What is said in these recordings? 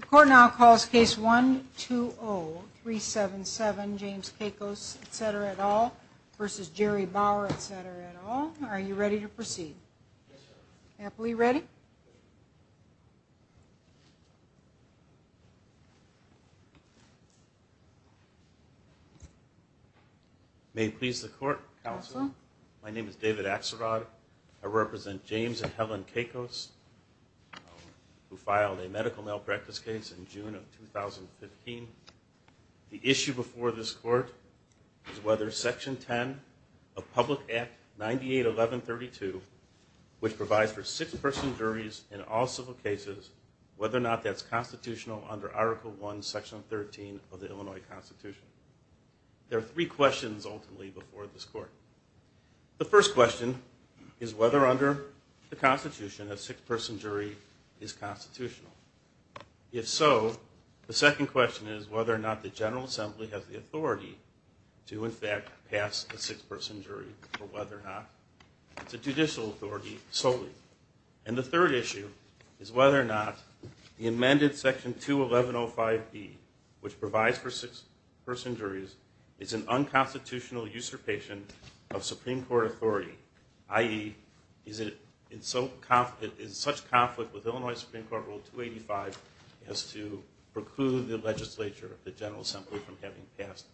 The court now calls case 120-377 James Kakos, etc. et al. v. Jerry Bauer, etc. et al. Are you ready to proceed? Happily ready? May it please the court, counsel. My name is David Axelrod. I represent James and Helen Kakos, who filed a medical malpractice case in June of 2015. The issue before this court is whether Section 10 of Public Act 98-1132, which provides for six-person juries in all civil cases, whether or not that's constitutional under Article I, Section 13 of the Illinois Constitution. There are three questions, ultimately, before this court. The first question is whether under the Constitution a six-person jury is constitutional. If so, the second question is whether or not the General Assembly has the authority to, in fact, pass a six-person jury, or whether or not it's a judicial authority solely. And the third issue is whether or not the amended Section 211-05B, which provides for six-person juries, is an unconstitutional usurpation of Supreme Court authority, i.e., is in such conflict with Illinois Supreme Court Rule 285 as to preclude the legislature, the General Assembly, from having passed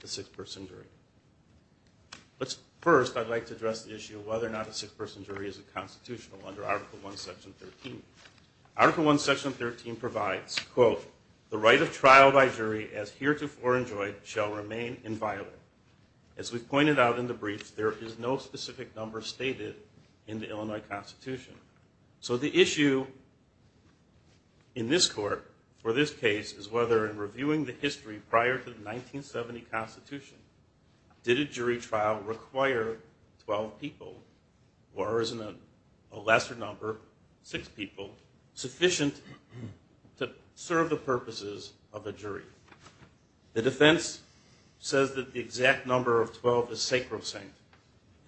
the six-person jury. First, I'd like to address the issue of whether or not a six-person jury is a constitutional under Article I, Section 13. Article I, Section 13 provides, quote, the right of trial by jury as heretofore enjoyed shall remain inviolate. As we've pointed out in the brief, there is no specific number stated in the Illinois Constitution. So the issue in this court for this case is whether in reviewing the history prior to the 1970 Constitution, did a jury trial require 12 people, or is a lesser number, six people, sufficient to serve the purposes of a jury? The defense says that the exact number of 12 is sacrosanct,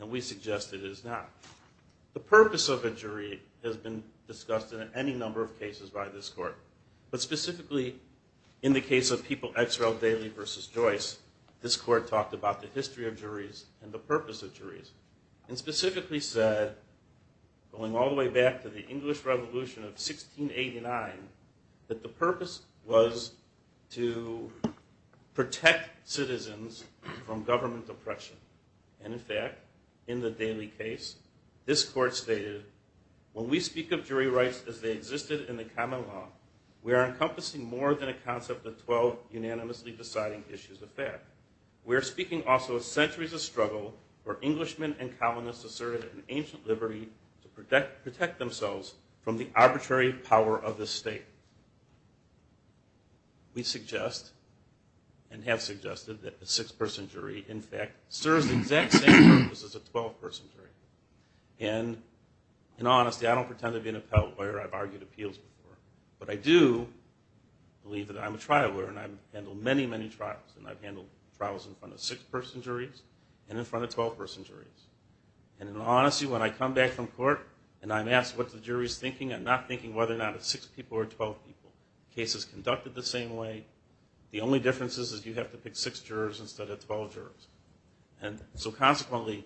and we suggest it is not. The purpose of a jury has been discussed in any number of cases by this court. But specifically, in the case of People X. Rel. Daly v. Joyce, this court talked about the history of juries and the purpose of juries. And specifically said, going all the way back to the English Revolution of 1689, that the purpose was to protect citizens from government oppression. And in fact, in the Daly case, this court stated, when we speak of jury rights as they existed in the common law, we are encompassing more than a concept of 12 unanimously deciding issues of fact. We are speaking also of centuries of struggle where Englishmen and colonists asserted an ancient liberty to protect themselves from the arbitrary power of the state. We suggest, and have suggested, that a six-person jury, in fact, serves the exact same purpose as a 12-person jury. And in honesty, I don't pretend to be an appellate lawyer. I've argued appeals before. But I do believe that I'm a trial lawyer, and I've handled many, many trials. And I've handled trials in front of six-person juries and in front of 12-person juries. And in honesty, when I come back from court and I'm asked what the jury's thinking, I'm not thinking whether or not it's six people or 12 people. The case is conducted the same way. The only difference is you have to pick six jurors instead of 12 jurors. And so consequently,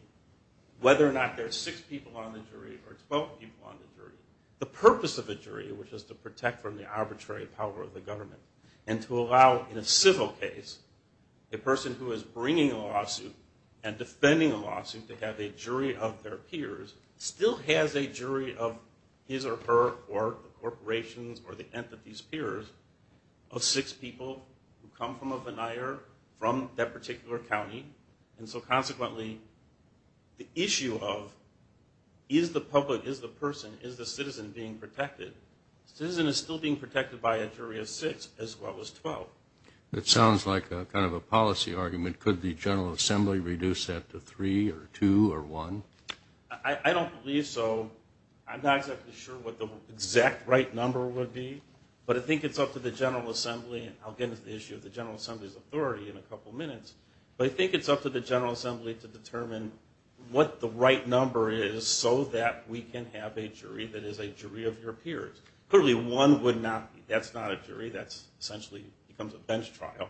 whether or not there are six people on the jury or 12 people on the jury, the purpose of a jury, which is to protect from the arbitrary power of the government, and to allow, in a civil case, a person who is bringing a lawsuit and defending a lawsuit to have a jury of their peers, still has a jury of his or her or the corporation's or the entity's peers of six people who come from a veneer from that particular county. And so consequently, the issue of is the public, is the person, is the citizen being protected? The citizen is still being protected by a jury of six as well as 12. That sounds like kind of a policy argument. Could the General Assembly reduce that to three or two or one? I don't believe so. I'm not exactly sure what the exact right number would be, but I think it's up to the General Assembly, and I'll get into the issue of the General Assembly's authority in a couple minutes, but I think it's up to the General Assembly to determine what the right number is so that we can have a jury that is a jury of your peers. Clearly, one would not be. That's not a jury. That essentially becomes a bench trial.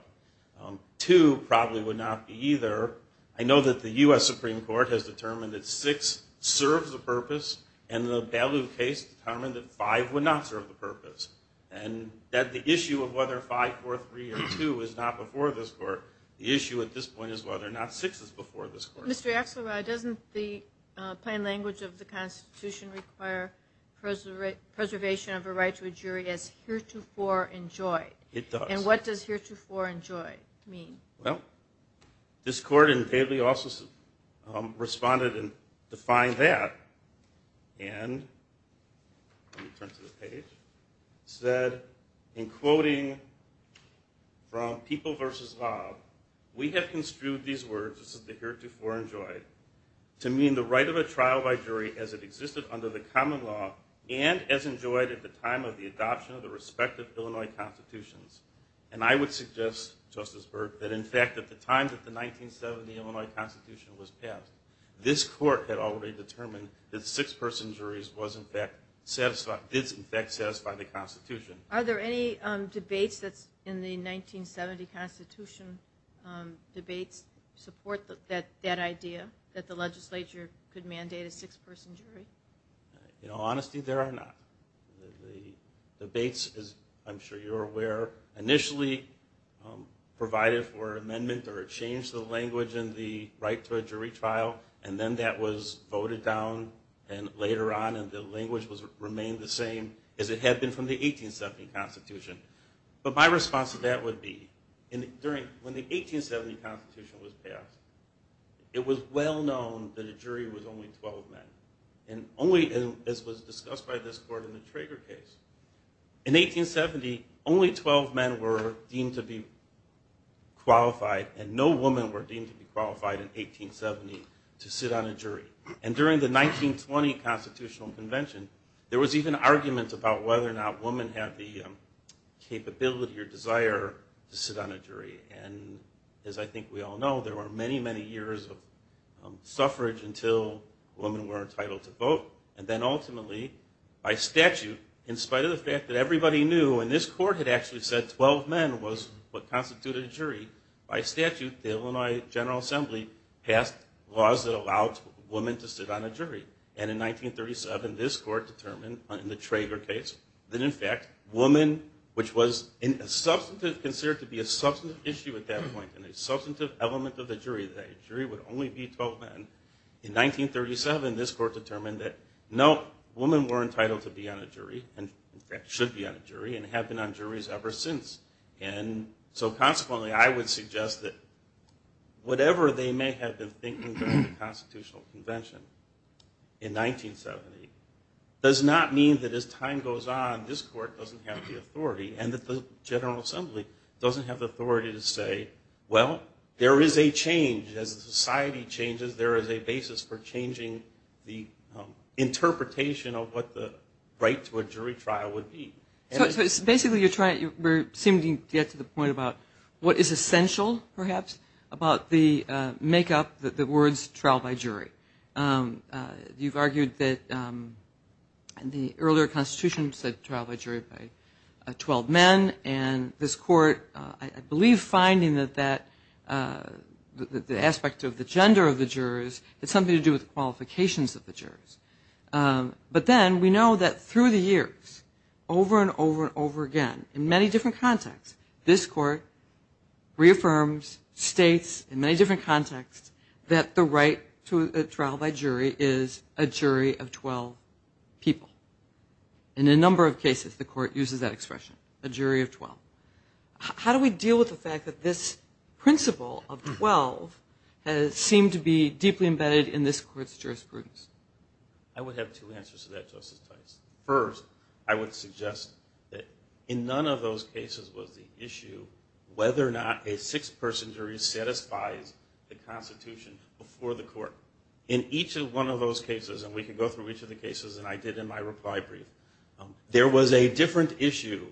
Two probably would not be either. I know that the U.S. Supreme Court has determined that six serves a purpose, and the Bailu case determined that five would not serve the purpose, and that the issue of whether five, four, three, or two is not before this court. The issue at this point is whether or not six is before this court. Mr. Axelrod, doesn't the plain language of the Constitution require preservation of a right to a jury as heretofore enjoyed? It does. And what does heretofore enjoyed mean? Well, this court in Bailey also responded and defined that, and let me turn to the page. It said, in quoting from People v. Raab, we have construed these words, this is the heretofore enjoyed, to mean the right of a trial by jury as it existed under the common law and as enjoyed at the time of the adoption of the respective Illinois constitutions. And I would suggest, Justice Byrd, that in fact at the time that the 1970 Illinois Constitution was passed, this court had already determined that six-person juries did in fact satisfy the Constitution. Are there any debates that's in the 1970 Constitution debates support that idea, that the legislature could mandate a six-person jury? In all honesty, there are not. The debates, as I'm sure you're aware, initially provided for amendment or a change to the language in the right to a jury trial, and then that was voted down later on and the language remained the same as it had been from the 1870 Constitution. But my response to that would be, when the 1870 Constitution was passed, it was well known that a jury was only 12 men. And only, as was discussed by this court in the Traeger case, in 1870, only 12 men were deemed to be qualified, and no women were deemed to be qualified in 1870 to sit on a jury. And during the 1920 Constitutional Convention, there was even argument about whether or not women had the capability or desire to sit on a jury. And as I think we all know, there were many, many years of suffrage until women were entitled to vote. And then ultimately, by statute, in spite of the fact that everybody knew, and this court had actually said 12 men was what constituted a jury, by statute, the Illinois General Assembly passed laws that allowed women to sit on a jury. And in 1937, this court determined, in the Traeger case, that in fact, women, which was considered to be a substantive issue at that point, and a substantive element of the jury, that a jury would only be 12 men, in 1937, this court determined that no, women were entitled to be on a jury, and in fact, should be on a jury, and have been on juries ever since. And so consequently, I would suggest that whatever they may have been thinking during the Constitutional Convention in 1970, does not mean that as time goes on, this court doesn't have the authority, and that the General Assembly doesn't have the authority to say, well, there is a change. As society changes, there is a basis for changing the interpretation of what the right to a jury trial would be. So basically, you're trying to get to the point about what is essential, perhaps, about the make-up, the words trial by jury. You've argued that the earlier Constitution said trial by jury by 12 men, and this court, I believe, finding that the aspect of the gender of the jurors had something to do with the qualifications of the jurors. But then, we know that through the years, over and over and over again, in many different contexts, this court reaffirms, states, in many different contexts, that the right to a trial by jury is a jury of 12 people. In a number of cases, the court uses that expression, a jury of 12. How do we deal with the fact that this principle of 12 has seemed to be deeply embedded in this court's jurisprudence? I would have two answers to that, Justice Tice. First, I would suggest that in none of those cases was the issue whether or not a six-person jury satisfies the Constitution before the court. In each and one of those cases, and we can go through each of the cases, and I did in my reply brief, there was a different issue,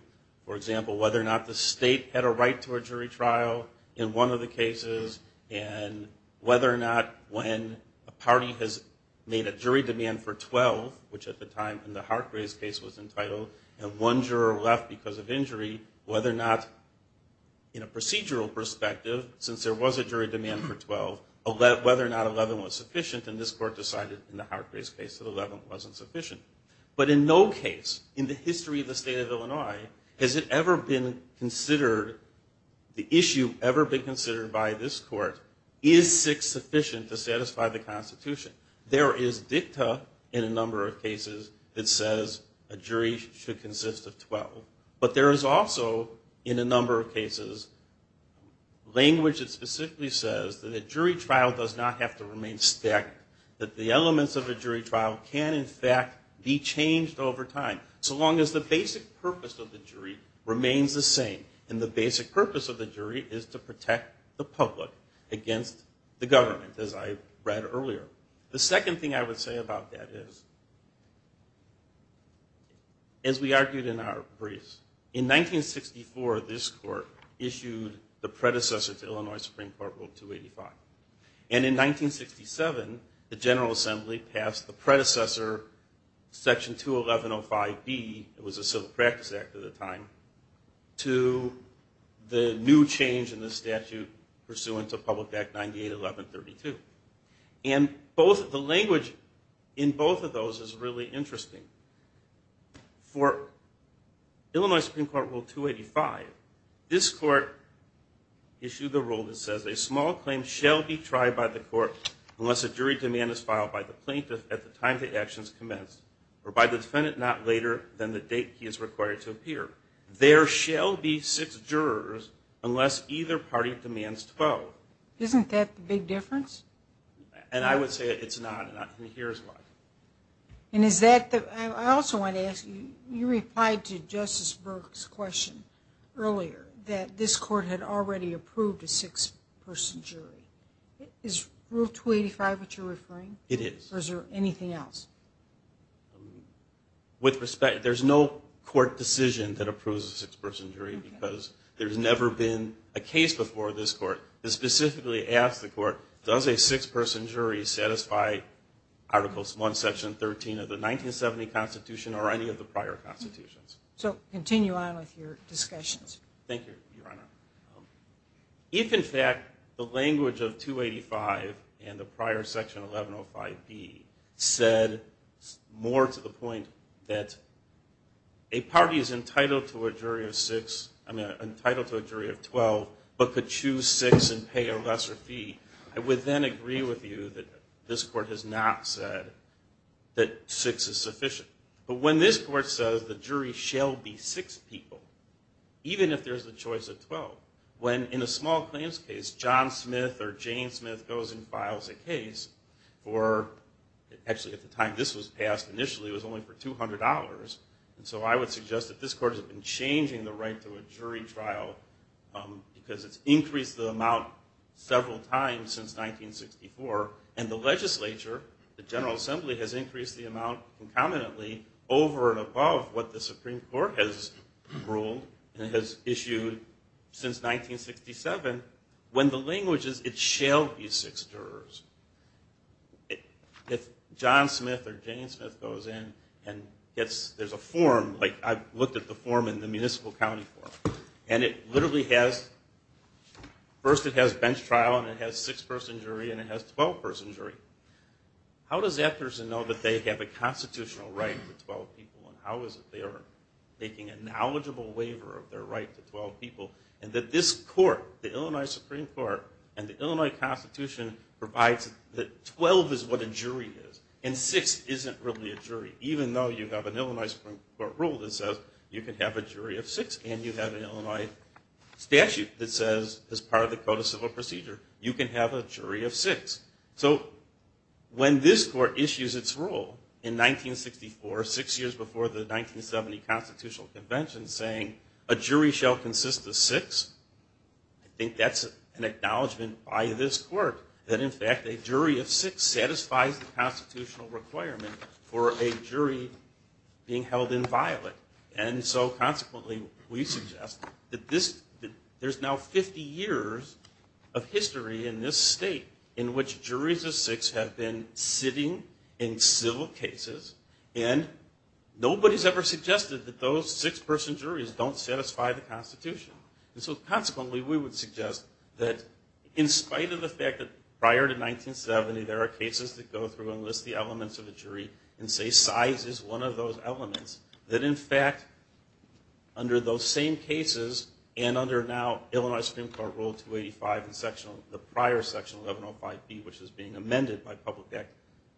for example, whether or not the state had a right to a jury trial in one of the cases, and whether or not when a party has made a jury demand for 12, which at the time in the Hargraves case was entitled, and one juror left because of injury, whether or not in a procedural perspective, since there was a jury demand for 12, whether or not 11 was sufficient, and this court decided in the Hargraves case that 11 wasn't sufficient. But in no case in the history of the state of Illinois has it ever been considered, the issue ever been considered by this court, is six sufficient to satisfy the Constitution? There is dicta in a number of cases that says a jury should consist of 12. But there is also in a number of cases language that specifically says that a jury trial does not have to remain staggered, that the elements of a jury trial can, in fact, be changed over time, so long as the basic purpose of the jury remains the same, and the basic purpose of the jury is to protect the public against the government, as I read earlier. The second thing I would say about that is, as we argued in our briefs, in 1964 this court issued the predecessor to Illinois Supreme Court Rule 285, and in 1967 the General Assembly passed the predecessor, Section 21105B, it was a civil practice act at the time, to the new change in the statute pursuant to Public Act 98-1132. And the language in both of those is really interesting. For Illinois Supreme Court Rule 285, this court issued the rule that says, a small claim shall be tried by the court unless a jury demand is filed by the plaintiff at the time the action is commenced, or by the defendant not later than the date he is required to appear. There shall be six jurors unless either party demands 12. Isn't that the big difference? And I would say it's not, and here's why. I also want to ask, you replied to Justice Burke's question earlier, that this court had already approved a six-person jury. Is Rule 285 what you're referring? It is. Or is there anything else? With respect, there's no court decision that approves a six-person jury, because there's never been a case before this court, that specifically asks the court, does a six-person jury satisfy Articles 1, Section 13 of the 1970 Constitution, or any of the prior constitutions. So continue on with your discussions. Thank you, Your Honor. If, in fact, the language of 285 and the prior Section 1105B said more to the point that a party is entitled to a jury of six, I mean entitled to a jury of 12, but could choose six and pay a lesser fee, I would then agree with you that this court has not said that six is sufficient. But when this court says the jury shall be six people, even if there's a choice of 12, when in a small claims case, John Smith or Jane Smith goes and files a case for, actually at the time this was passed initially, it was only for $200. So I would suggest that this court has been changing the right to a jury trial because it's increased the amount several times since 1964. And the legislature, the General Assembly, has increased the amount incumbently over and above what the Supreme Court has ruled and has issued since 1967, when the language is, it shall be six jurors. If John Smith or Jane Smith goes in and gets, there's a form, like I've looked at the form in the municipal county court, and it literally has, first it has bench trial and it has six-person jury and it has 12-person jury. How does that person know that they have a constitutional right to 12 people and how is it they are making a knowledgeable waiver of their right to 12 people and that this court, the Illinois Supreme Court, and the Illinois Constitution provides that 12 is what a jury is and six isn't really a jury, even though you have an Illinois Supreme Court rule that says you can have a jury of six and you have an Illinois statute that says, as part of the Code of Civil Procedure, you can have a jury of six. So when this court issues its rule in 1964, six years before the 1970 Constitutional Convention, saying a jury shall consist of six, I think that's an acknowledgment by this court, that in fact a jury of six satisfies the constitutional requirement for a jury being held inviolate. And so consequently we suggest that this, there's now 50 years of history in this state in which juries of six have been sitting in civil cases and nobody's ever suggested that those six-person juries don't satisfy the Constitution. And so consequently we would suggest that in spite of the fact that prior to 1970 there are cases that go through and list the elements of a jury and say size is one of those elements, that in fact under those same cases and under now Illinois Supreme Court Rule 285 and the prior section, 1105B, which is being amended by Public Act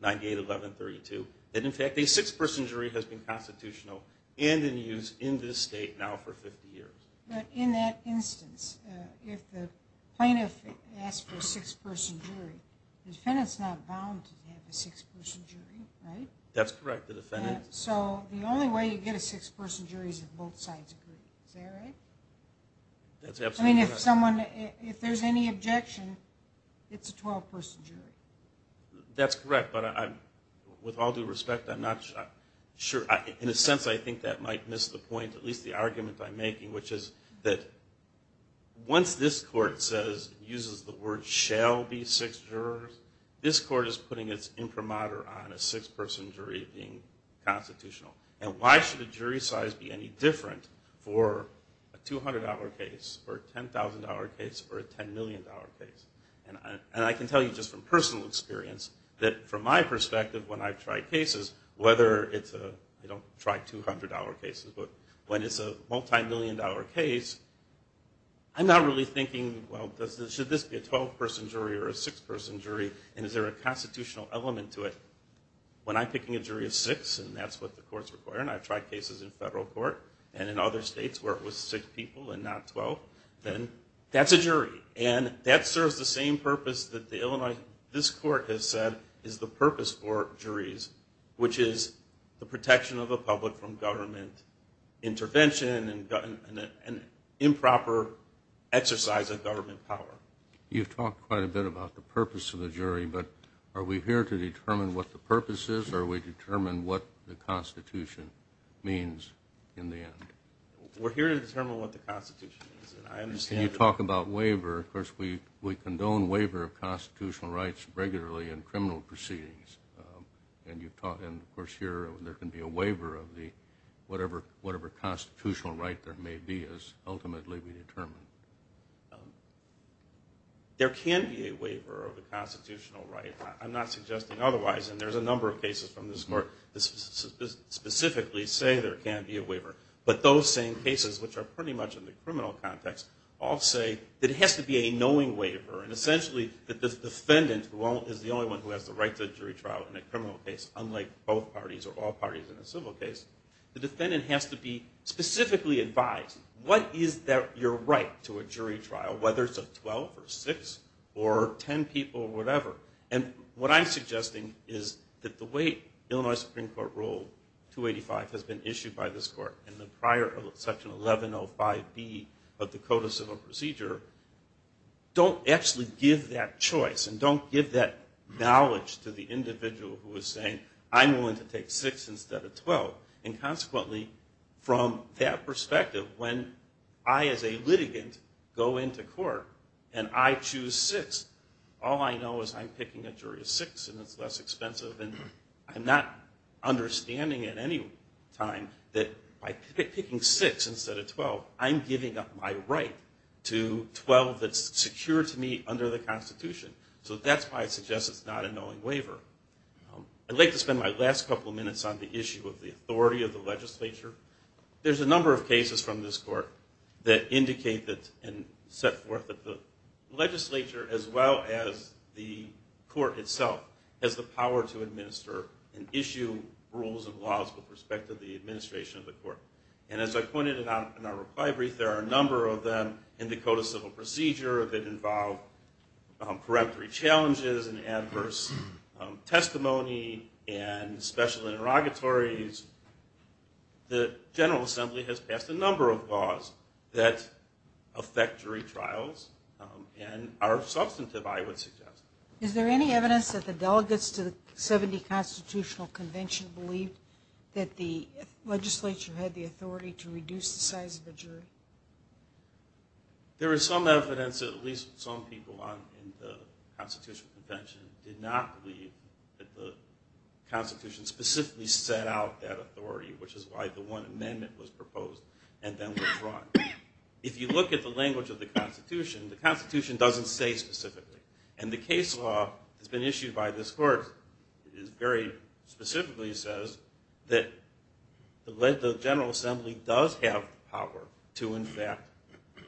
981132, that in fact a six-person jury has been constitutional and in use in this state now for 50 years. But in that instance, if the plaintiff asks for a six-person jury, the defendant's not bound to have a six-person jury, right? That's correct, the defendant... So the only way you get a six-person jury is if both sides agree, is that right? That's absolutely correct. I mean if someone, if there's any objection, it's a 12-person jury. That's correct, but with all due respect I'm not sure, in a sense I think that might miss the point, at least the argument I'm making, which is that once this court says, uses the word shall be six jurors, this court is putting its imprimatur on a six-person jury being constitutional. And why should a jury size be any different for a $200 case or a $10,000 case or a $10 million case? And I can tell you just from personal experience that from my perspective when I've tried cases, whether it's a... When it's a multi-million dollar case, I'm not really thinking, well should this be a 12-person jury or a six-person jury and is there a constitutional element to it? When I'm picking a jury of six and that's what the court's requiring, I've tried cases in federal court and in other states where it was six people and not 12, then that's a jury. And that serves the same purpose that the Illinois... This court has said is the purpose for juries, which is the protection of the public from government intervention and improper exercise of government power. You've talked quite a bit about the purpose of the jury, but are we here to determine what the purpose is or are we determined what the Constitution means in the end? We're here to determine what the Constitution is. Can you talk about waiver? Of course, we condone waiver of constitutional rights regularly in criminal proceedings. And, of course, here there can be a waiver of whatever constitutional right there may be is ultimately determined. There can be a waiver of a constitutional right. I'm not suggesting otherwise, and there's a number of cases from this court that specifically say there can be a waiver. But those same cases, which are pretty much in the criminal context, all say that it has to be a knowing waiver. And essentially the defendant is the only one who has the right to a jury trial in a criminal case, unlike both parties or all parties in a civil case. The defendant has to be specifically advised, what is your right to a jury trial, whether it's a 12 or 6 or 10 people, whatever. And what I'm suggesting is that the way Illinois Supreme Court Rule 285 has been issued by this court in the prior section 1105B of the Code of Civil Procedure don't actually give that choice and don't give that knowledge to the individual who is saying, I'm willing to take 6 instead of 12. And consequently, from that perspective, when I as a litigant go into court and I choose 6, all I know is I'm picking a jury of 6 and it's less expensive. And I'm not understanding at any time that by picking 6 instead of 12, I'm giving up my right to 12 that's secure to me under the Constitution. So that's why I suggest it's not a knowing waiver. I'd like to spend my last couple of minutes on the issue of the authority of the legislature. There's a number of cases from this court that indicate and set forth that the legislature, as well as the court itself, has the power to administer and issue rules and laws with respect to the administration of the court. And as I pointed out in our reply brief, there are a number of them in the Code of Civil Procedure that involve peremptory challenges and adverse testimony and special interrogatories. The General Assembly has passed a number of laws that affect jury trials and are substantive, I would suggest. Is there any evidence that the delegates to the 70 Constitutional Convention believed that the legislature had the authority to reduce the size of a jury? There is some evidence that at least some people in the Constitutional Convention did not believe that the Constitution specifically set out that authority, which is why the one amendment was proposed and then withdrawn. If you look at the language of the Constitution, the Constitution doesn't say specifically. And the case law that's been issued by this court very specifically says that the General Assembly does have power to, in fact,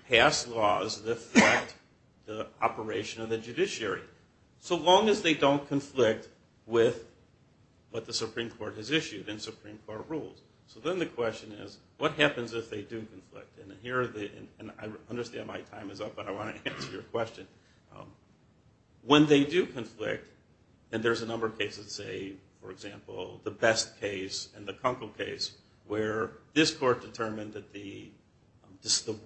pass laws that affect the operation of the judiciary, so long as they don't conflict with what the Supreme Court has issued and Supreme Court rules. So then the question is, what happens if they do conflict? And I understand my time is up, but I want to answer your question. When they do conflict, and there's a number of cases, say, for example, the Best case and the Kunkel case, where this court determined that the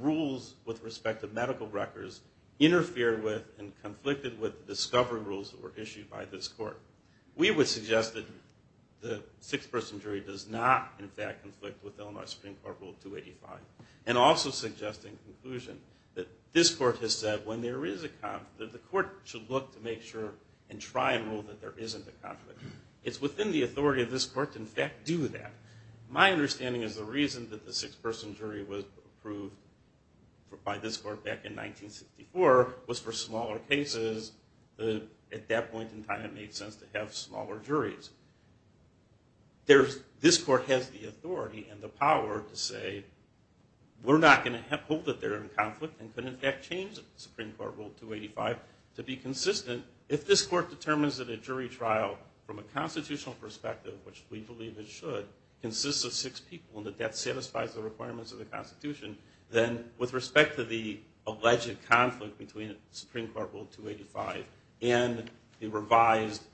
rules with respect to medical records interfered with and conflicted with discovery rules that were issued by this court. We would suggest that the six-person jury does not, in fact, conflict with Illinois Supreme Court Rule 285. And also suggest in conclusion that this court has said when there is a conflict, the court should look to make sure and try and rule that there isn't a conflict. It's within the authority of this court to, in fact, do that. My understanding is the reason that the six-person jury was approved by this court back in 1964 was for smaller cases. At that point in time, it made sense to have smaller juries. This court has the authority and the power to say, we're not going to hold that they're in conflict and could, in fact, change the Supreme Court Rule 285. To be consistent, if this court determines that a jury trial, from a constitutional perspective, which we believe it should, consists of six people and that that satisfies the requirements of the Constitution, then with respect to the alleged conflict between Supreme Court Rule 285 and the revised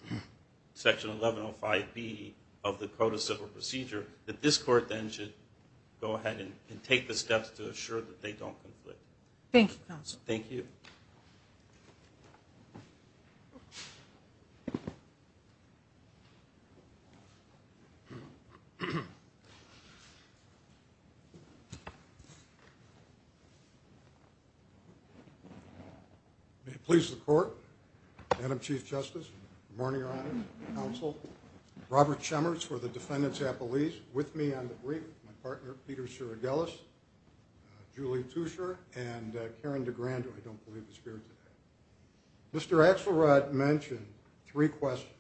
Section 1105B of the Code of Civil Procedure, that this court then should go ahead and take the steps to assure that they don't conflict. Thank you, counsel. Thank you. Thank you. May it please the court, Madam Chief Justice, morning, Your Honor, counsel, Robert Chemers for the defendants at police, with me on the brief, my partner, Peter Siragelis, Julie Tushar, and Karen DeGrande, who I don't believe is here today. Mr. Axelrod mentioned three questions.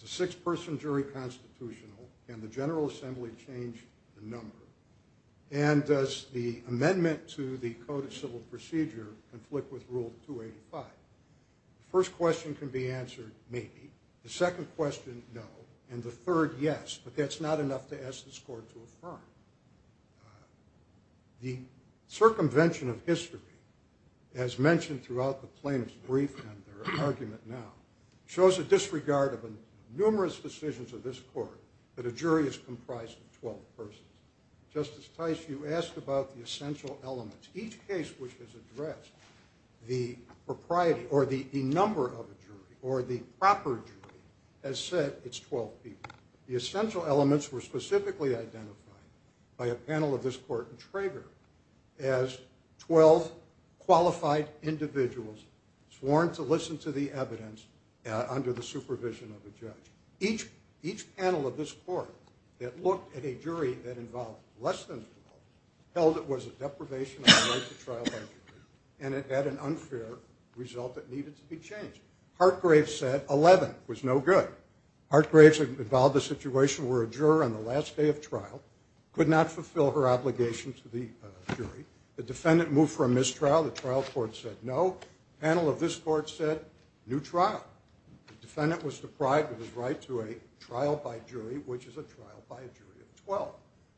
It's a six-person jury constitutional. Can the General Assembly change the number? And does the amendment to the Code of Civil Procedure conflict with Rule 285? The first question can be answered, maybe. The second question, no. And the third, yes. But that's not enough to ask this court to affirm. The circumvention of history, as mentioned throughout the plaintiff's brief and their argument now, shows a disregard of numerous decisions of this court that a jury is comprised of 12 persons. Justice Tice, you asked about the essential elements. Each case which has addressed the propriety or the number of a jury or the proper jury has said it's 12 people. The essential elements were specifically identified by a panel of this court in Traeger as 12 qualified individuals sworn to listen to the evidence under the supervision of a judge. Each panel of this court that looked at a jury that involved less than 12 held it was a deprivation of the right to trial by jury and it had an unfair result that needed to be changed. Hartgrave said 11 was no good. Hartgrave involved the situation where a juror on the last day of trial could not fulfill her obligation to the jury. The defendant moved for a mistrial. The trial court said no. The panel of this court said new trial. The defendant was deprived of his right to a trial by jury, which is a trial by a jury of 12.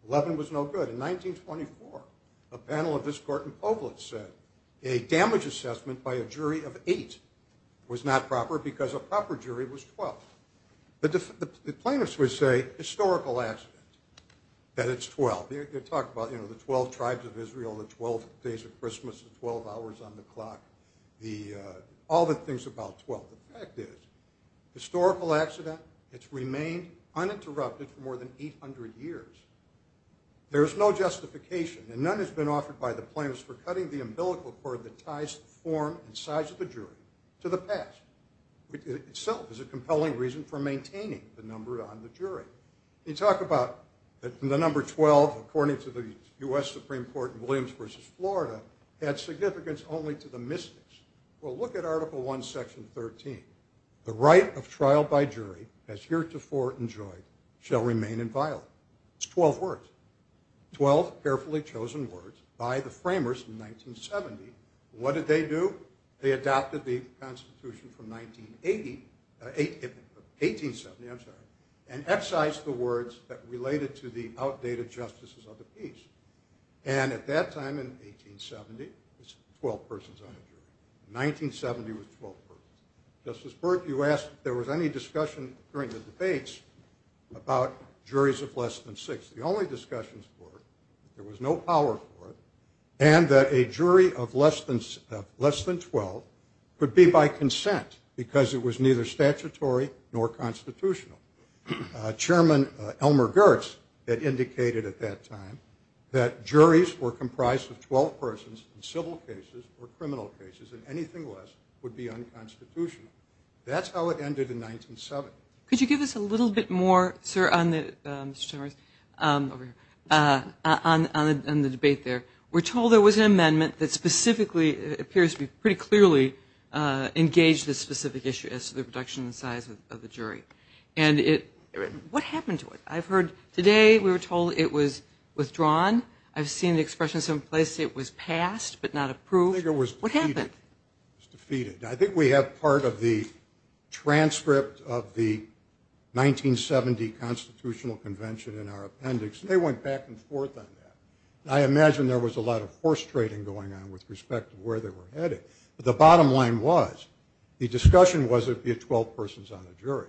11 was no good. In 1924, a panel of this court in Povlitz said a damage assessment by a jury of 8 was not proper because a proper jury was 12. The plaintiffs would say historical accident that it's 12. They talk about the 12 tribes of Israel, the 12 days of Christmas, the 12 hours on the clock, all the things about 12. The fact is historical accident. It's remained uninterrupted for more than 800 years. There is no justification, and none has been offered by the plaintiffs for cutting the umbilical cord that ties the form and size of the jury to the past. It itself is a compelling reason for maintaining the number on the jury. They talk about the number 12, according to the U.S. Supreme Court in Williams v. Florida, had significance only to the mystics. Well, look at Article I, Section 13. The right of trial by jury, as heretofore enjoyed, shall remain inviolate. It's 12 words. by the framers in 1970. What did they do? They adopted the Constitution from 1980, 1870, I'm sorry, and excised the words that related to the outdated justices of the peace. And at that time in 1870, it's 12 persons on the jury. In 1970, it was 12 persons. Justice Burke, you asked if there was any discussion during the debates about juries of less than 6. The only discussions were there was no power for it and that a jury of less than 12 could be by consent because it was neither statutory nor constitutional. Chairman Elmer Gertz had indicated at that time that juries were comprised of 12 persons in civil cases or criminal cases, and anything less would be unconstitutional. That's how it ended in 1970. Could you give us a little bit more, sir, on the debate there? We're told there was an amendment that specifically appears to pretty clearly engage this specific issue as to the reduction in the size of the jury. What happened to it? I've heard today we were told it was withdrawn. I've seen the expression someplace it was passed but not approved. I think it was defeated. I think we have part of the transcript of the 1970 Constitutional Convention in our appendix, and they went back and forth on that. I imagine there was a lot of horse trading going on with respect to where they were headed. But the bottom line was the discussion was it would be 12 persons on a jury.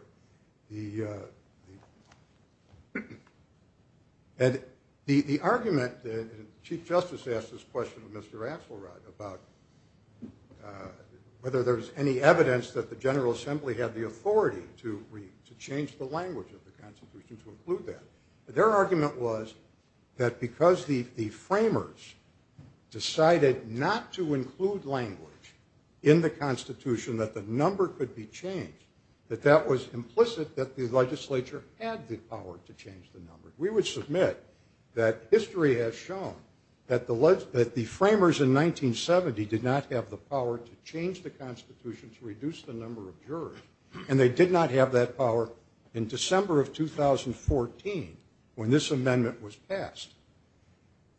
The argument that Chief Justice asked this question to Mr. Axelrod about whether there was any evidence that the General Assembly had the authority to change the language of the Constitution to include that, their argument was that because the framers decided not to include language in the Constitution that the number could be changed, that that was implicit that the legislature had the power to change the number. We would submit that history has shown that the framers in 1970 did not have the power to change the Constitution to reduce the number of jurors, and they did not have that power in December of 2014 when this amendment was passed.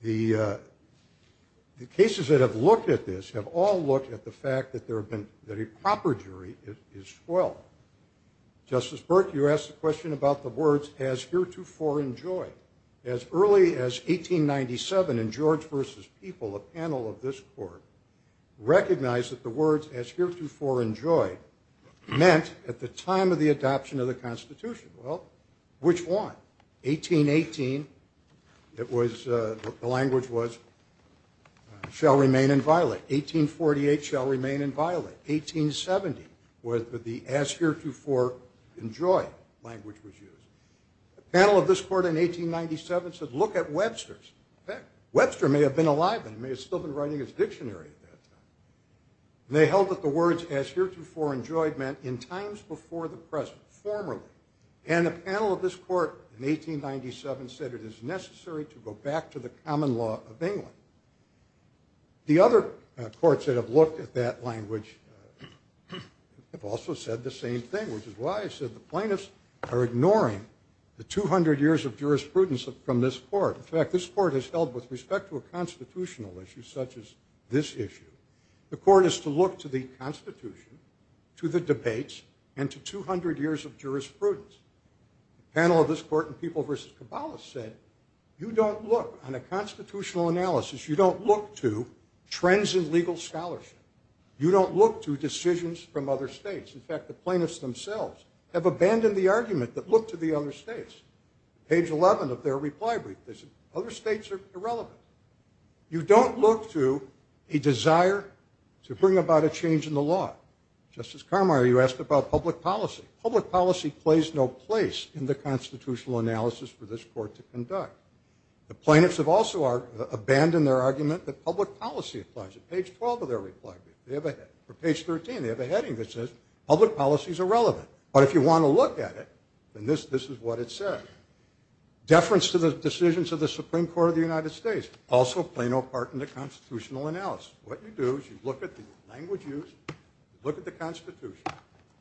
The cases that have looked at this have all looked at the fact that a proper jury is 12. Justice Burke, you asked a question about the words, as heretofore enjoyed. As early as 1897 in George v. People, a panel of this court, recognized that the words, as heretofore enjoyed, meant at the time of the adoption of the Constitution. Well, which one? 1818, the language was, shall remain inviolate. 1848, shall remain inviolate. 1870, where the, as heretofore enjoyed, language was used. A panel of this court in 1897 said, look at Webster's. Webster may have been alive then. He may have still been writing his dictionary at that time. And they held that the words, as heretofore enjoyed, meant in times before the present, formerly. And a panel of this court in 1897 said it is necessary to go back to the common law of England. The other courts that have looked at that language have also said the same thing, which is why I said the plaintiffs are ignoring the 200 years of jurisprudence from this court. In fact, this court has held, with respect to a constitutional issue such as this issue, the court is to look to the Constitution, to the debates, and to 200 years of jurisprudence. A panel of this court in People v. Kabbalah said, you don't look on a constitutional analysis, you don't look to trends in legal scholarship. You don't look to decisions from other states. In fact, the plaintiffs themselves have abandoned the argument that look to the other states. Page 11 of their reply brief says, other states are irrelevant. You don't look to a desire to bring about a change in the law. Justice Carmier, you asked about public policy. Public policy plays no place in the constitutional analysis for this court to conduct. The plaintiffs have also abandoned their argument that public policy applies. At page 12 of their reply brief, they have a heading. For page 13, they have a heading that says, public policy is irrelevant. But if you want to look at it, then this is what it says. Deference to the decisions of the Supreme Court of the United States also play no part in the constitutional analysis. What you do is you look at the language used, look at the Constitution,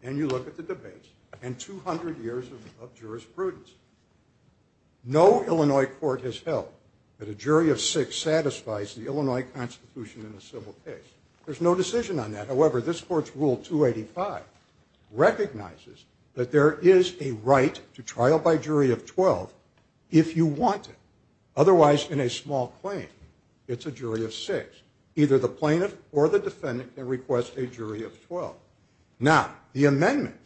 and you look at the debates and 200 years of jurisprudence. No Illinois court has held that a jury of six satisfies the Illinois Constitution in a civil case. There's no decision on that. However, this court's Rule 285 recognizes that there is a right to trial by jury of 12 if you want to. Otherwise, in a small claim, it's a jury of six. Either the plaintiff or the defendant can request a jury of 12. Now, the amendment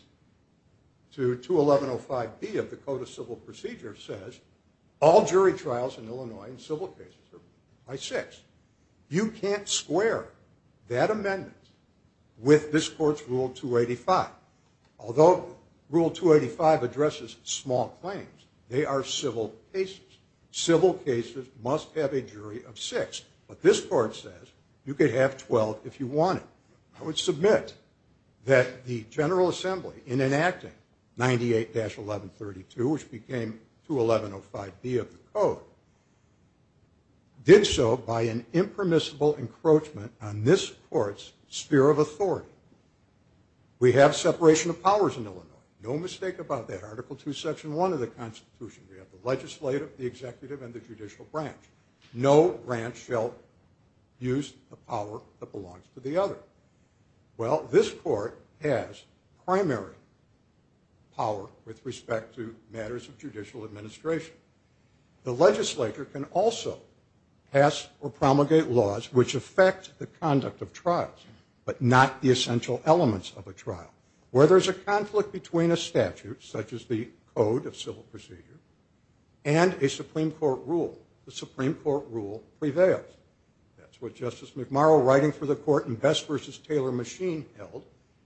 to 21105B of the Code of Civil Procedure says all jury trials in Illinois in civil cases are by six. You can't square that amendment with this court's Rule 285. Although Rule 285 addresses small claims, they are civil cases. Civil cases must have a jury of six. But this court says you could have 12 if you wanted. I would submit that the General Assembly, in enacting 98-1132, which became 21105B of the Code, did so by an impermissible encroachment on this court's sphere of authority. We have separation of powers in Illinois. No mistake about that. Article II, Section 1 of the Constitution. We have the legislative, the executive, and the judicial branch. No branch shall use the power that belongs to the other. Well, this court has primary power with respect to matters of judicial administration. The legislature can also pass or promulgate laws which affect the conduct of trials, but not the essential elements of a trial. Where there's a conflict between a statute, such as the Code of Civil Procedure, and a Supreme Court rule. The Supreme Court rule prevails. That's what Justice McMurrow, writing for the court in Best v. Taylor Machine, held.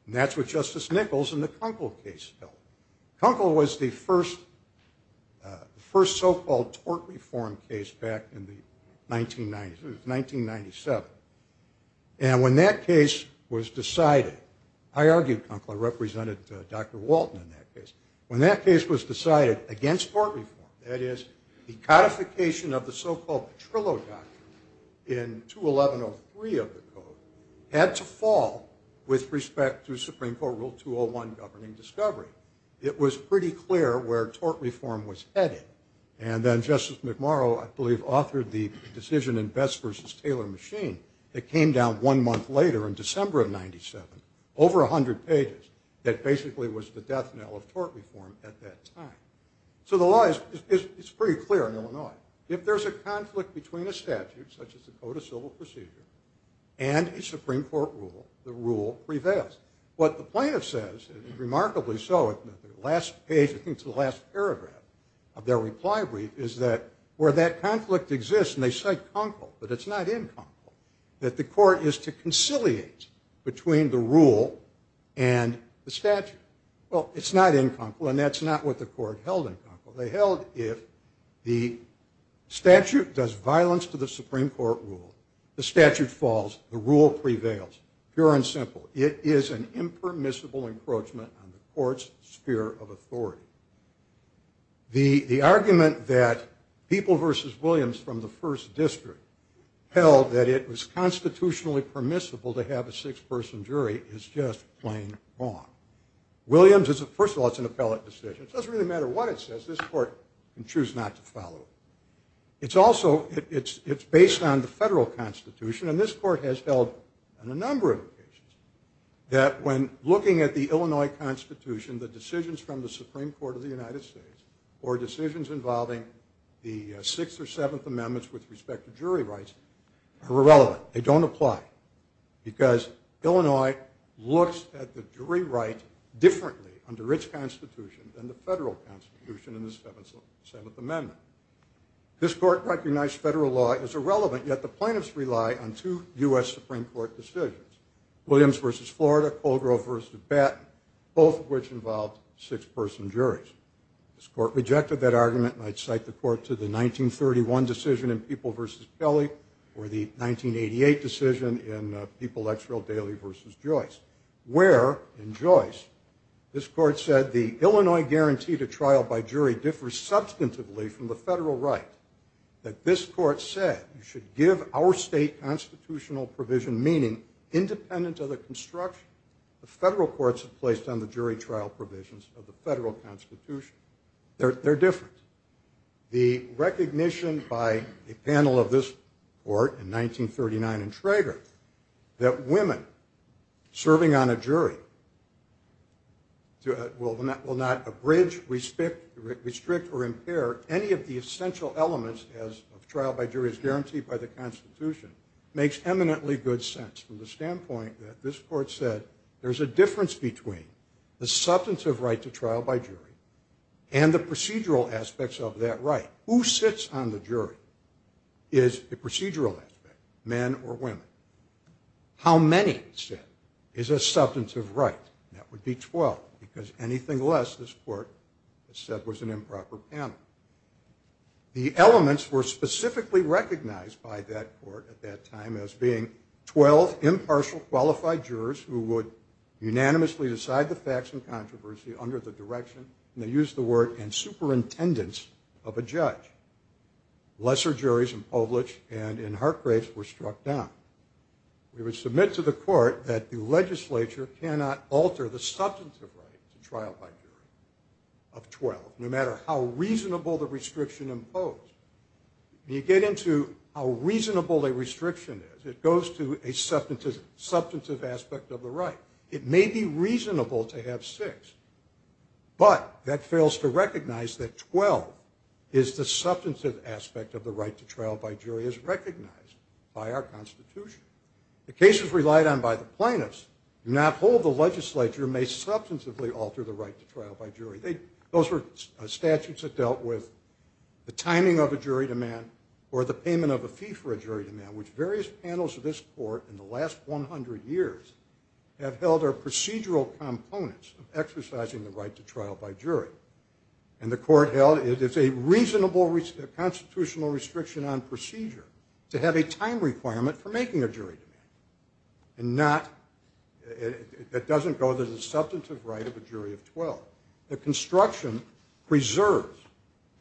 And that's what Justice Nichols in the Kunkel case held. Kunkel was the first so-called tort reform case back in the 1990s. It was 1997. And when that case was decided, I argued Kunkel. I represented Dr. Walton in that case. When that case was decided against tort reform, that is, the codification of the so-called Petrillo Doctrine in 21103 of the Code, had to fall with respect to Supreme Court Rule 201, Governing Discovery. It was pretty clear where tort reform was headed. And then Justice McMurrow, I believe, authored the decision in Best v. Taylor Machine that came down one month later, in December of 1997, over 100 pages, that basically was the death knell of tort reform at that time. So the law is pretty clear in Illinois. If there's a conflict between a statute, such as the Code of Civil Procedure, and a Supreme Court rule, the rule prevails. What the plaintiff says, and remarkably so, in the last page, I think it's the last paragraph of their reply brief, is that where that conflict exists, and they cite Kunkel, but it's not in Kunkel, that the court is to conciliate between the rule and the statute. Well, it's not in Kunkel, and that's not what the court held in Kunkel. They held if the statute does violence to the Supreme Court rule, the statute falls, the rule prevails, pure and simple. It is an impermissible encroachment on the court's sphere of authority. The argument that People v. Williams from the First District held that it was constitutionally permissible to have a six-person jury is just plain wrong. Williams is a, first of all, it's an appellate decision. It doesn't really matter what it says. This court can choose not to follow it. It's also, it's based on the federal constitution, and this court has held on a number of occasions that when looking at the Illinois Constitution, the decisions from the Supreme Court of the United States, or decisions involving the Sixth or Seventh Amendments with respect to jury rights, are irrelevant. They don't apply because Illinois looks at the jury right differently under its constitution than the federal constitution in the Seventh Amendment. This court recognized federal law as irrelevant, yet the plaintiffs rely on two U.S. Supreme Court decisions, Williams v. Florida, Kohlgrove v. Batten, both of which involved six-person juries. This court rejected that argument, and I'd cite the court to the 1931 decision in People v. Kelly or the 1988 decision in People, Exrill, Daley v. Joyce, where, in Joyce, this court said, the Illinois guarantee to trial by jury differs substantively from the federal right, that this court said you should give our state constitutional provision meaning independent of the construction the federal courts have placed on the jury trial provisions of the federal constitution. They're different. The recognition by a panel of this court in 1939 in Traeger that women serving on a jury will not abridge, restrict, or impair any of the essential elements of trial by jury as guaranteed by the constitution makes eminently good sense from the standpoint that this court said there's a difference between the substantive right to trial by jury and the procedural aspects of that right. Who sits on the jury is a procedural aspect, men or women. How many, it said, is a substantive right, and that would be 12, because anything less, this court said, was an improper panel. The elements were specifically recognized by that court at that time as being 12 impartial, qualified jurors who would unanimously decide the facts and controversy under the direction, and they used the word, and superintendence of a judge. Lesser juries in Povlitz and in Hartgrave were struck down. We would submit to the court that the legislature cannot alter the substantive right to trial by jury of 12, no matter how reasonable the restriction imposed. When you get into how reasonable a restriction is, it goes to a substantive aspect of the right. It may be reasonable to have six, but that fails to recognize that 12 is the substantive aspect of the right to trial by jury as recognized by our constitution. The cases relied on by the plaintiffs do not hold the legislature may substantively alter the right to trial by jury. Those were statutes that dealt with the timing of a jury demand or the payment of a fee for a jury demand, which various panels of this court in the last 100 years have held are procedural components of exercising the right to trial by jury. And the court held it's a reasonable constitutional restriction on procedure to have a time requirement for making a jury demand. It doesn't go to the substantive right of a jury of 12. The construction preserves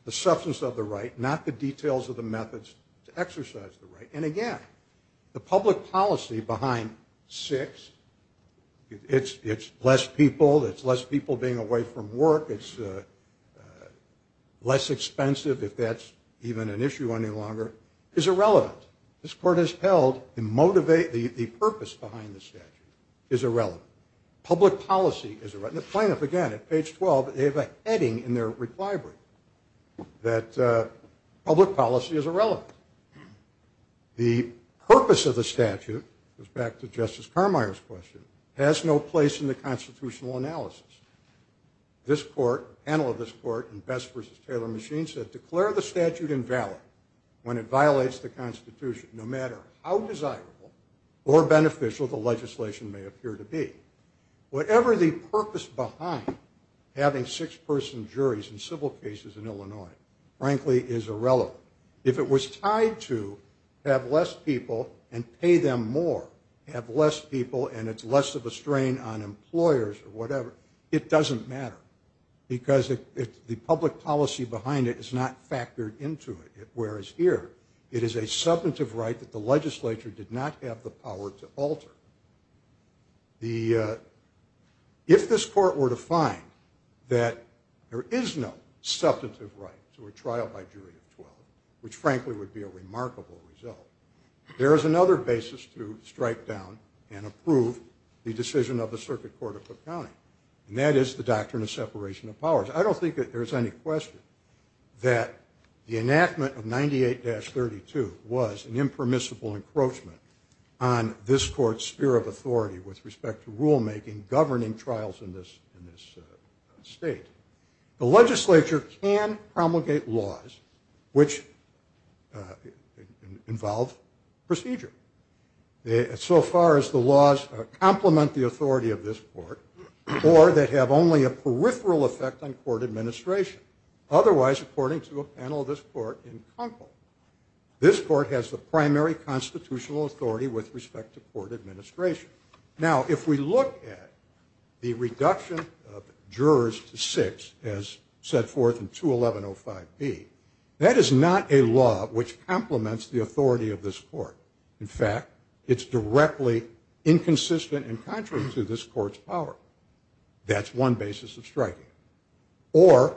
the substance of the right, not the details of the methods to exercise the right. And again, the public policy behind six, it's less people, it's less people being away from work, it's less expensive if that's even an issue any longer, is irrelevant. This court has held the purpose behind the statute is irrelevant. Public policy is irrelevant. The plaintiff, again, at page 12, they have a heading in their reply brief that public policy is irrelevant. The purpose of the statute, goes back to Justice Carmeier's question, has no place in the constitutional analysis. This court, panel of this court in Best v. Taylor and Machine said, declare the statute invalid when it violates the constitution, no matter how desirable or beneficial the legislation may appear to be. Whatever the purpose behind having six-person juries in civil cases in Illinois, frankly, is irrelevant. If it was tied to have less people and pay them more, have less people, and it's less of a strain on employers or whatever, it doesn't matter. Because the public policy behind it is not factored into it. It is a substantive right that the legislature did not have the power to alter. If this court were to find that there is no substantive right to a trial by jury of 12, which frankly would be a remarkable result, there is another basis to strike down and approve the decision of the Circuit Court of Cook County, I don't think that there's any question that the enactment of 98-32 was an impermissible encroachment on this court's sphere of authority with respect to rulemaking governing trials in this state. The legislature can promulgate laws which involve procedure. So far as the laws complement the authority of this court, or that have only a peripheral effect on court administration. Otherwise, according to a panel of this court in Kunkel, this court has the primary constitutional authority with respect to court administration. Now, if we look at the reduction of jurors to six, as set forth in 211-05B, that is not a law which complements the authority of this court. In fact, it's directly inconsistent and contrary to this court's power. That's one basis of striking it. Or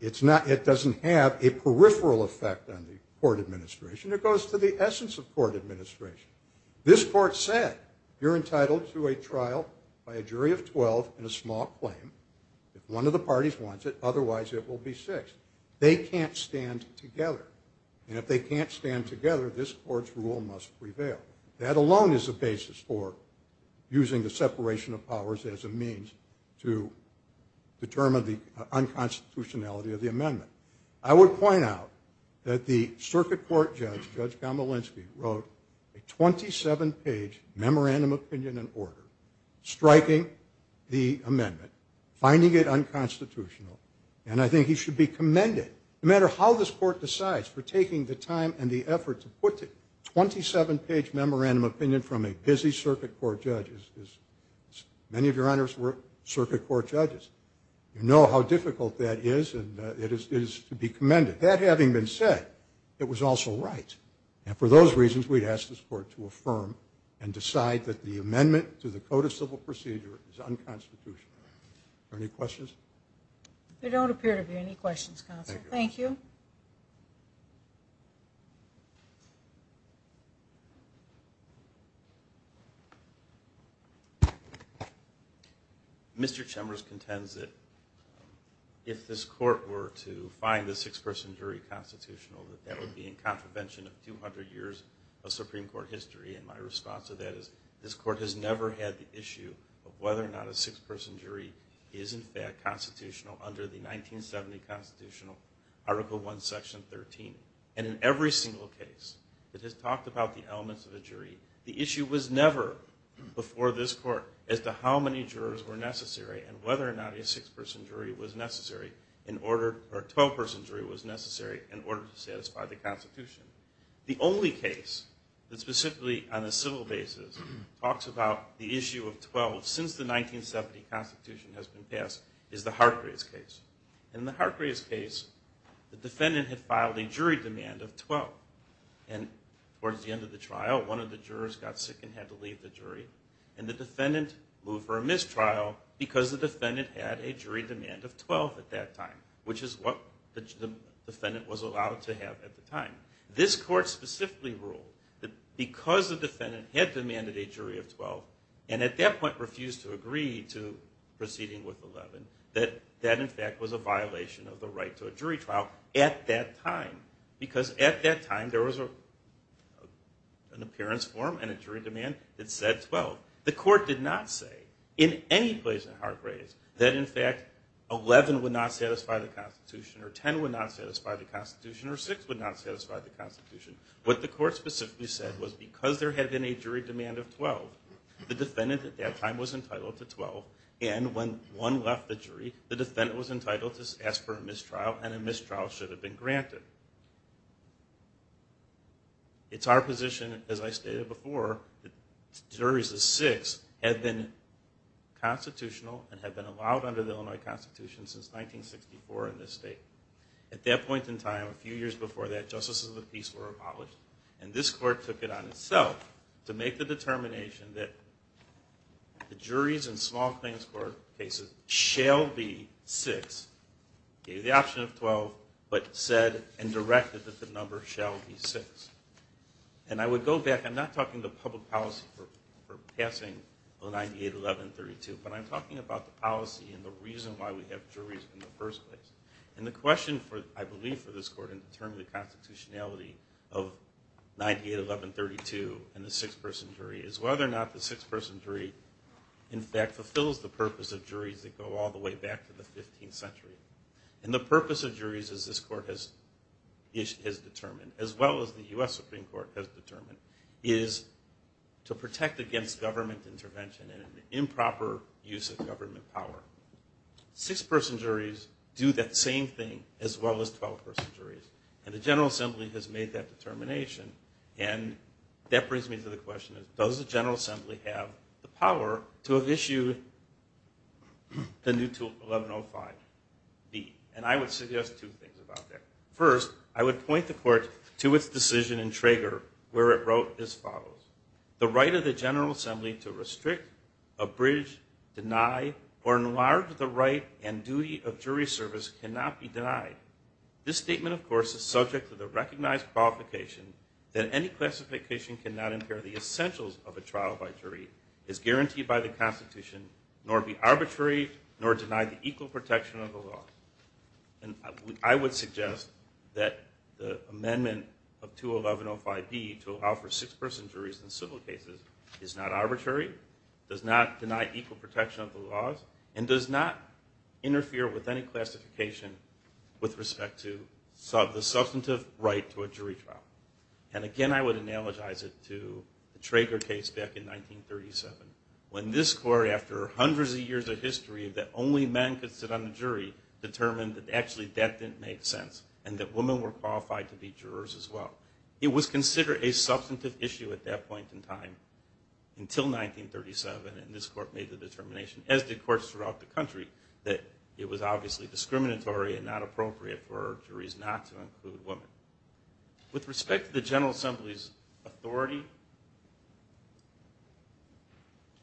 it doesn't have a peripheral effect on the court administration. It goes to the essence of court administration. This court said, you're entitled to a trial by a jury of 12 and a small claim. If one of the parties wants it, otherwise it will be six. They can't stand together. And if they can't stand together, this court's rule must prevail. That alone is a basis for using the separation of powers as a means to determine the unconstitutionality of the amendment. I would point out that the circuit court judge, Judge Gomolinsky, wrote a 27-page memorandum of opinion and order, striking the amendment, finding it unconstitutional, and I think he should be commended, no matter how this court decides, for taking the time and the effort to put the 27-page memorandum of opinion from a busy circuit court judge. Many of your honors were circuit court judges. You know how difficult that is, and it is to be commended. That having been said, it was also right. And for those reasons, we'd ask this court to affirm and decide that the amendment to the Code of Civil Procedure is unconstitutional. Are there any questions? There don't appear to be any questions, counsel. Thank you. Mr. Chemers contends that if this court were to find the six-person jury constitutional, that that would be in contravention of 200 years of Supreme Court history. And my response to that is this court has never had the issue of whether or not a six-person jury is, in fact, constitutional under the 1970 Constitutional Article I, Section 13. And in every single case that has talked about the elements of a jury, the issue was never before this court as to how many jurors were necessary and whether or not a six-person jury was necessary in order, or a 12-person jury was necessary in order to satisfy the Constitution. The only case that specifically on a civil basis talks about the issue of 12 since the 1970 Constitution has been passed is the Hargraves case. In the Hargraves case, the defendant had filed a jury demand of 12. And towards the end of the trial, one of the jurors got sick and had to leave the jury. And the defendant moved for a mistrial because the defendant had a jury demand of 12 at that time, which is what the defendant was allowed to have at the time. This court specifically ruled that because the defendant had demanded a jury of 12 and at that point refused to agree to proceeding with 11, that that, in fact, was a violation of the right to a jury trial at that time because at that time there was an appearance form and a jury demand that said 12. The court did not say in any place in Hargraves that, in fact, 11 would not satisfy the Constitution or 10 would not satisfy the Constitution or six would not satisfy the Constitution. What the court specifically said was because there had been a jury demand of 12, the defendant at that time was entitled to 12. And when one left the jury, the defendant was entitled to ask for a mistrial and a mistrial should have been granted. It's our position, as I stated before, that juries of six had been constitutional and had been allowed under the Illinois Constitution since 1964 in this state. At that point in time, a few years before that, justices of the peace were abolished and this court took it on itself to make the determination that the juries in small claims court cases shall be six, gave the option of 12, but said and directed that the number shall be six. And I would go back. I'm not talking the public policy for passing 098, 11, 32, but I'm talking about the policy and the reason why we have juries in the first place. And the question, I believe, for this court in determining the constitutionality of 98, 11, 32 and the six-person jury is whether or not the six-person jury in fact fulfills the purpose of juries that go all the way back to the 15th century. And the purpose of juries, as this court has determined, as well as the U.S. Supreme Court has determined, is to protect against government intervention and improper use of government power. Six-person juries do that same thing as well as 12-person juries. And the General Assembly has made that determination. And that brings me to the question, does the General Assembly have the power to have issued the new tool, 1105B? And I would suggest two things about that. First, I would point the court to its decision in Traeger where it wrote as follows, the right of the General Assembly to restrict, abridge, deny, or enlarge the right and duty of jury service cannot be denied. This statement, of course, is subject to the recognized qualification that any classification cannot impair the essentials of a trial by jury, is guaranteed by the constitution, nor be arbitrary, nor deny the equal protection of the law. And I would suggest that the amendment of 21105B to allow for six-person juries in civil cases is not arbitrary, does not deny equal protection of the laws, and does not interfere with any classification with respect to the substantive right to a jury trial. And again, I would analogize it to the Traeger case back in 1937 when this court, after hundreds of years of history, believed that only men could sit on the jury, determined that actually that didn't make sense, and that women were qualified to be jurors as well. It was considered a substantive issue at that point in time until 1937, and this court made the determination, as did courts throughout the country, that it was obviously discriminatory and not appropriate for juries not to include women. With respect to the General Assembly's authority,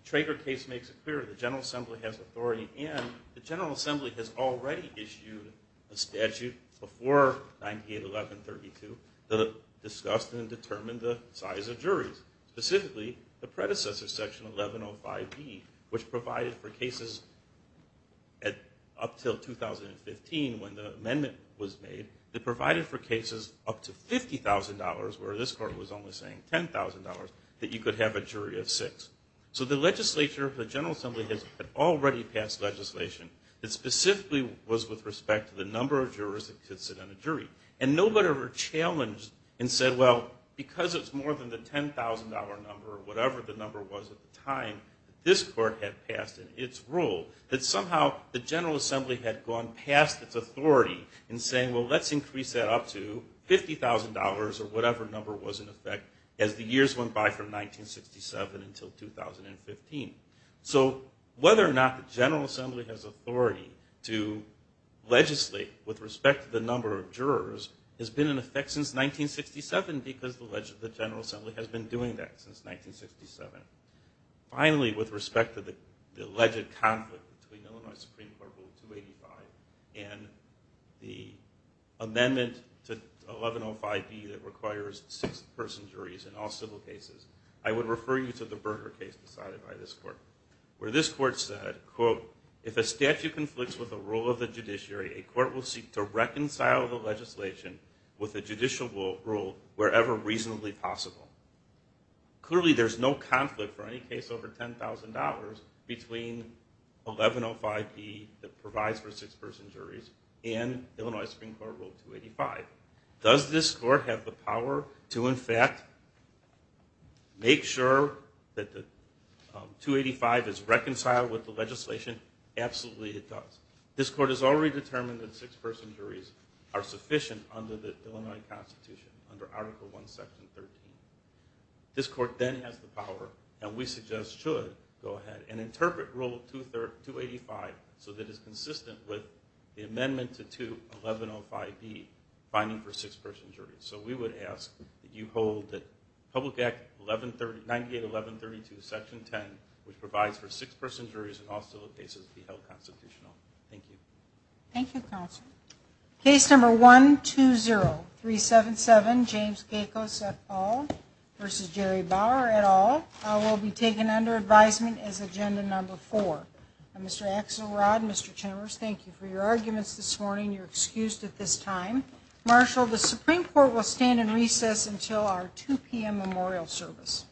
the Traeger case makes it clear that the General Assembly has authority, and the General Assembly has already issued a statute before 981132 that discussed and determined the size of juries, specifically the predecessor, Section 1105B, which provided for cases up until 2015 when the amendment was made. It provided for cases up to $50,000, where this court was only saying $10,000, that you could have a jury of six. So the legislature of the General Assembly had already passed legislation that specifically was with respect to the number of jurors that could sit on a jury. And nobody ever challenged and said, well, because it's more than the $10,000 number, or whatever the number was at the time that this court had passed in its rule, that somehow the General Assembly had gone past its authority in saying, well, let's increase that up to $50,000 or whatever number was in effect as the years went by from 1967 until 2015. So whether or not the General Assembly has authority to legislate with respect to the number of jurors has been in effect since 1967 because the General Assembly has been doing that since 1967. Finally, with respect to the alleged conflict between amendment to 1105B that requires six-person juries in all civil cases, I would refer you to the Berger case decided by this court, where this court said, quote, if a statute conflicts with the rule of the judiciary, a court will seek to reconcile the legislation with the judicial rule wherever reasonably possible. Clearly, there's no conflict for any case over $10,000 between 1105B that provides for six-person juries and Illinois Supreme Court Rule 285. Does this court have the power to, in fact, make sure that the 285 is reconciled with the legislation? Absolutely it does. This court has already determined that six-person juries are sufficient under the Illinois Constitution, under Article I, Section 13. This court then has the power, and we suggest should, go ahead and interpret Rule 285 so that it's consistent with the amendment to 1105B, finding for six-person juries. So we would ask that you hold that Public Act 98-1132, Section 10, which provides for six-person juries in all civil cases, be held constitutional. Thank you. Thank you, counsel. Case number 120377, James Kacos et al. v. Jerry Bauer et al. will be taken under advisement as Agenda Number 4. Mr. Axelrod, Mr. Chambers, thank you for your arguments this morning. You're excused at this time. Marshal, the Supreme Court will stand in recess until our 2 p.m. memorial service.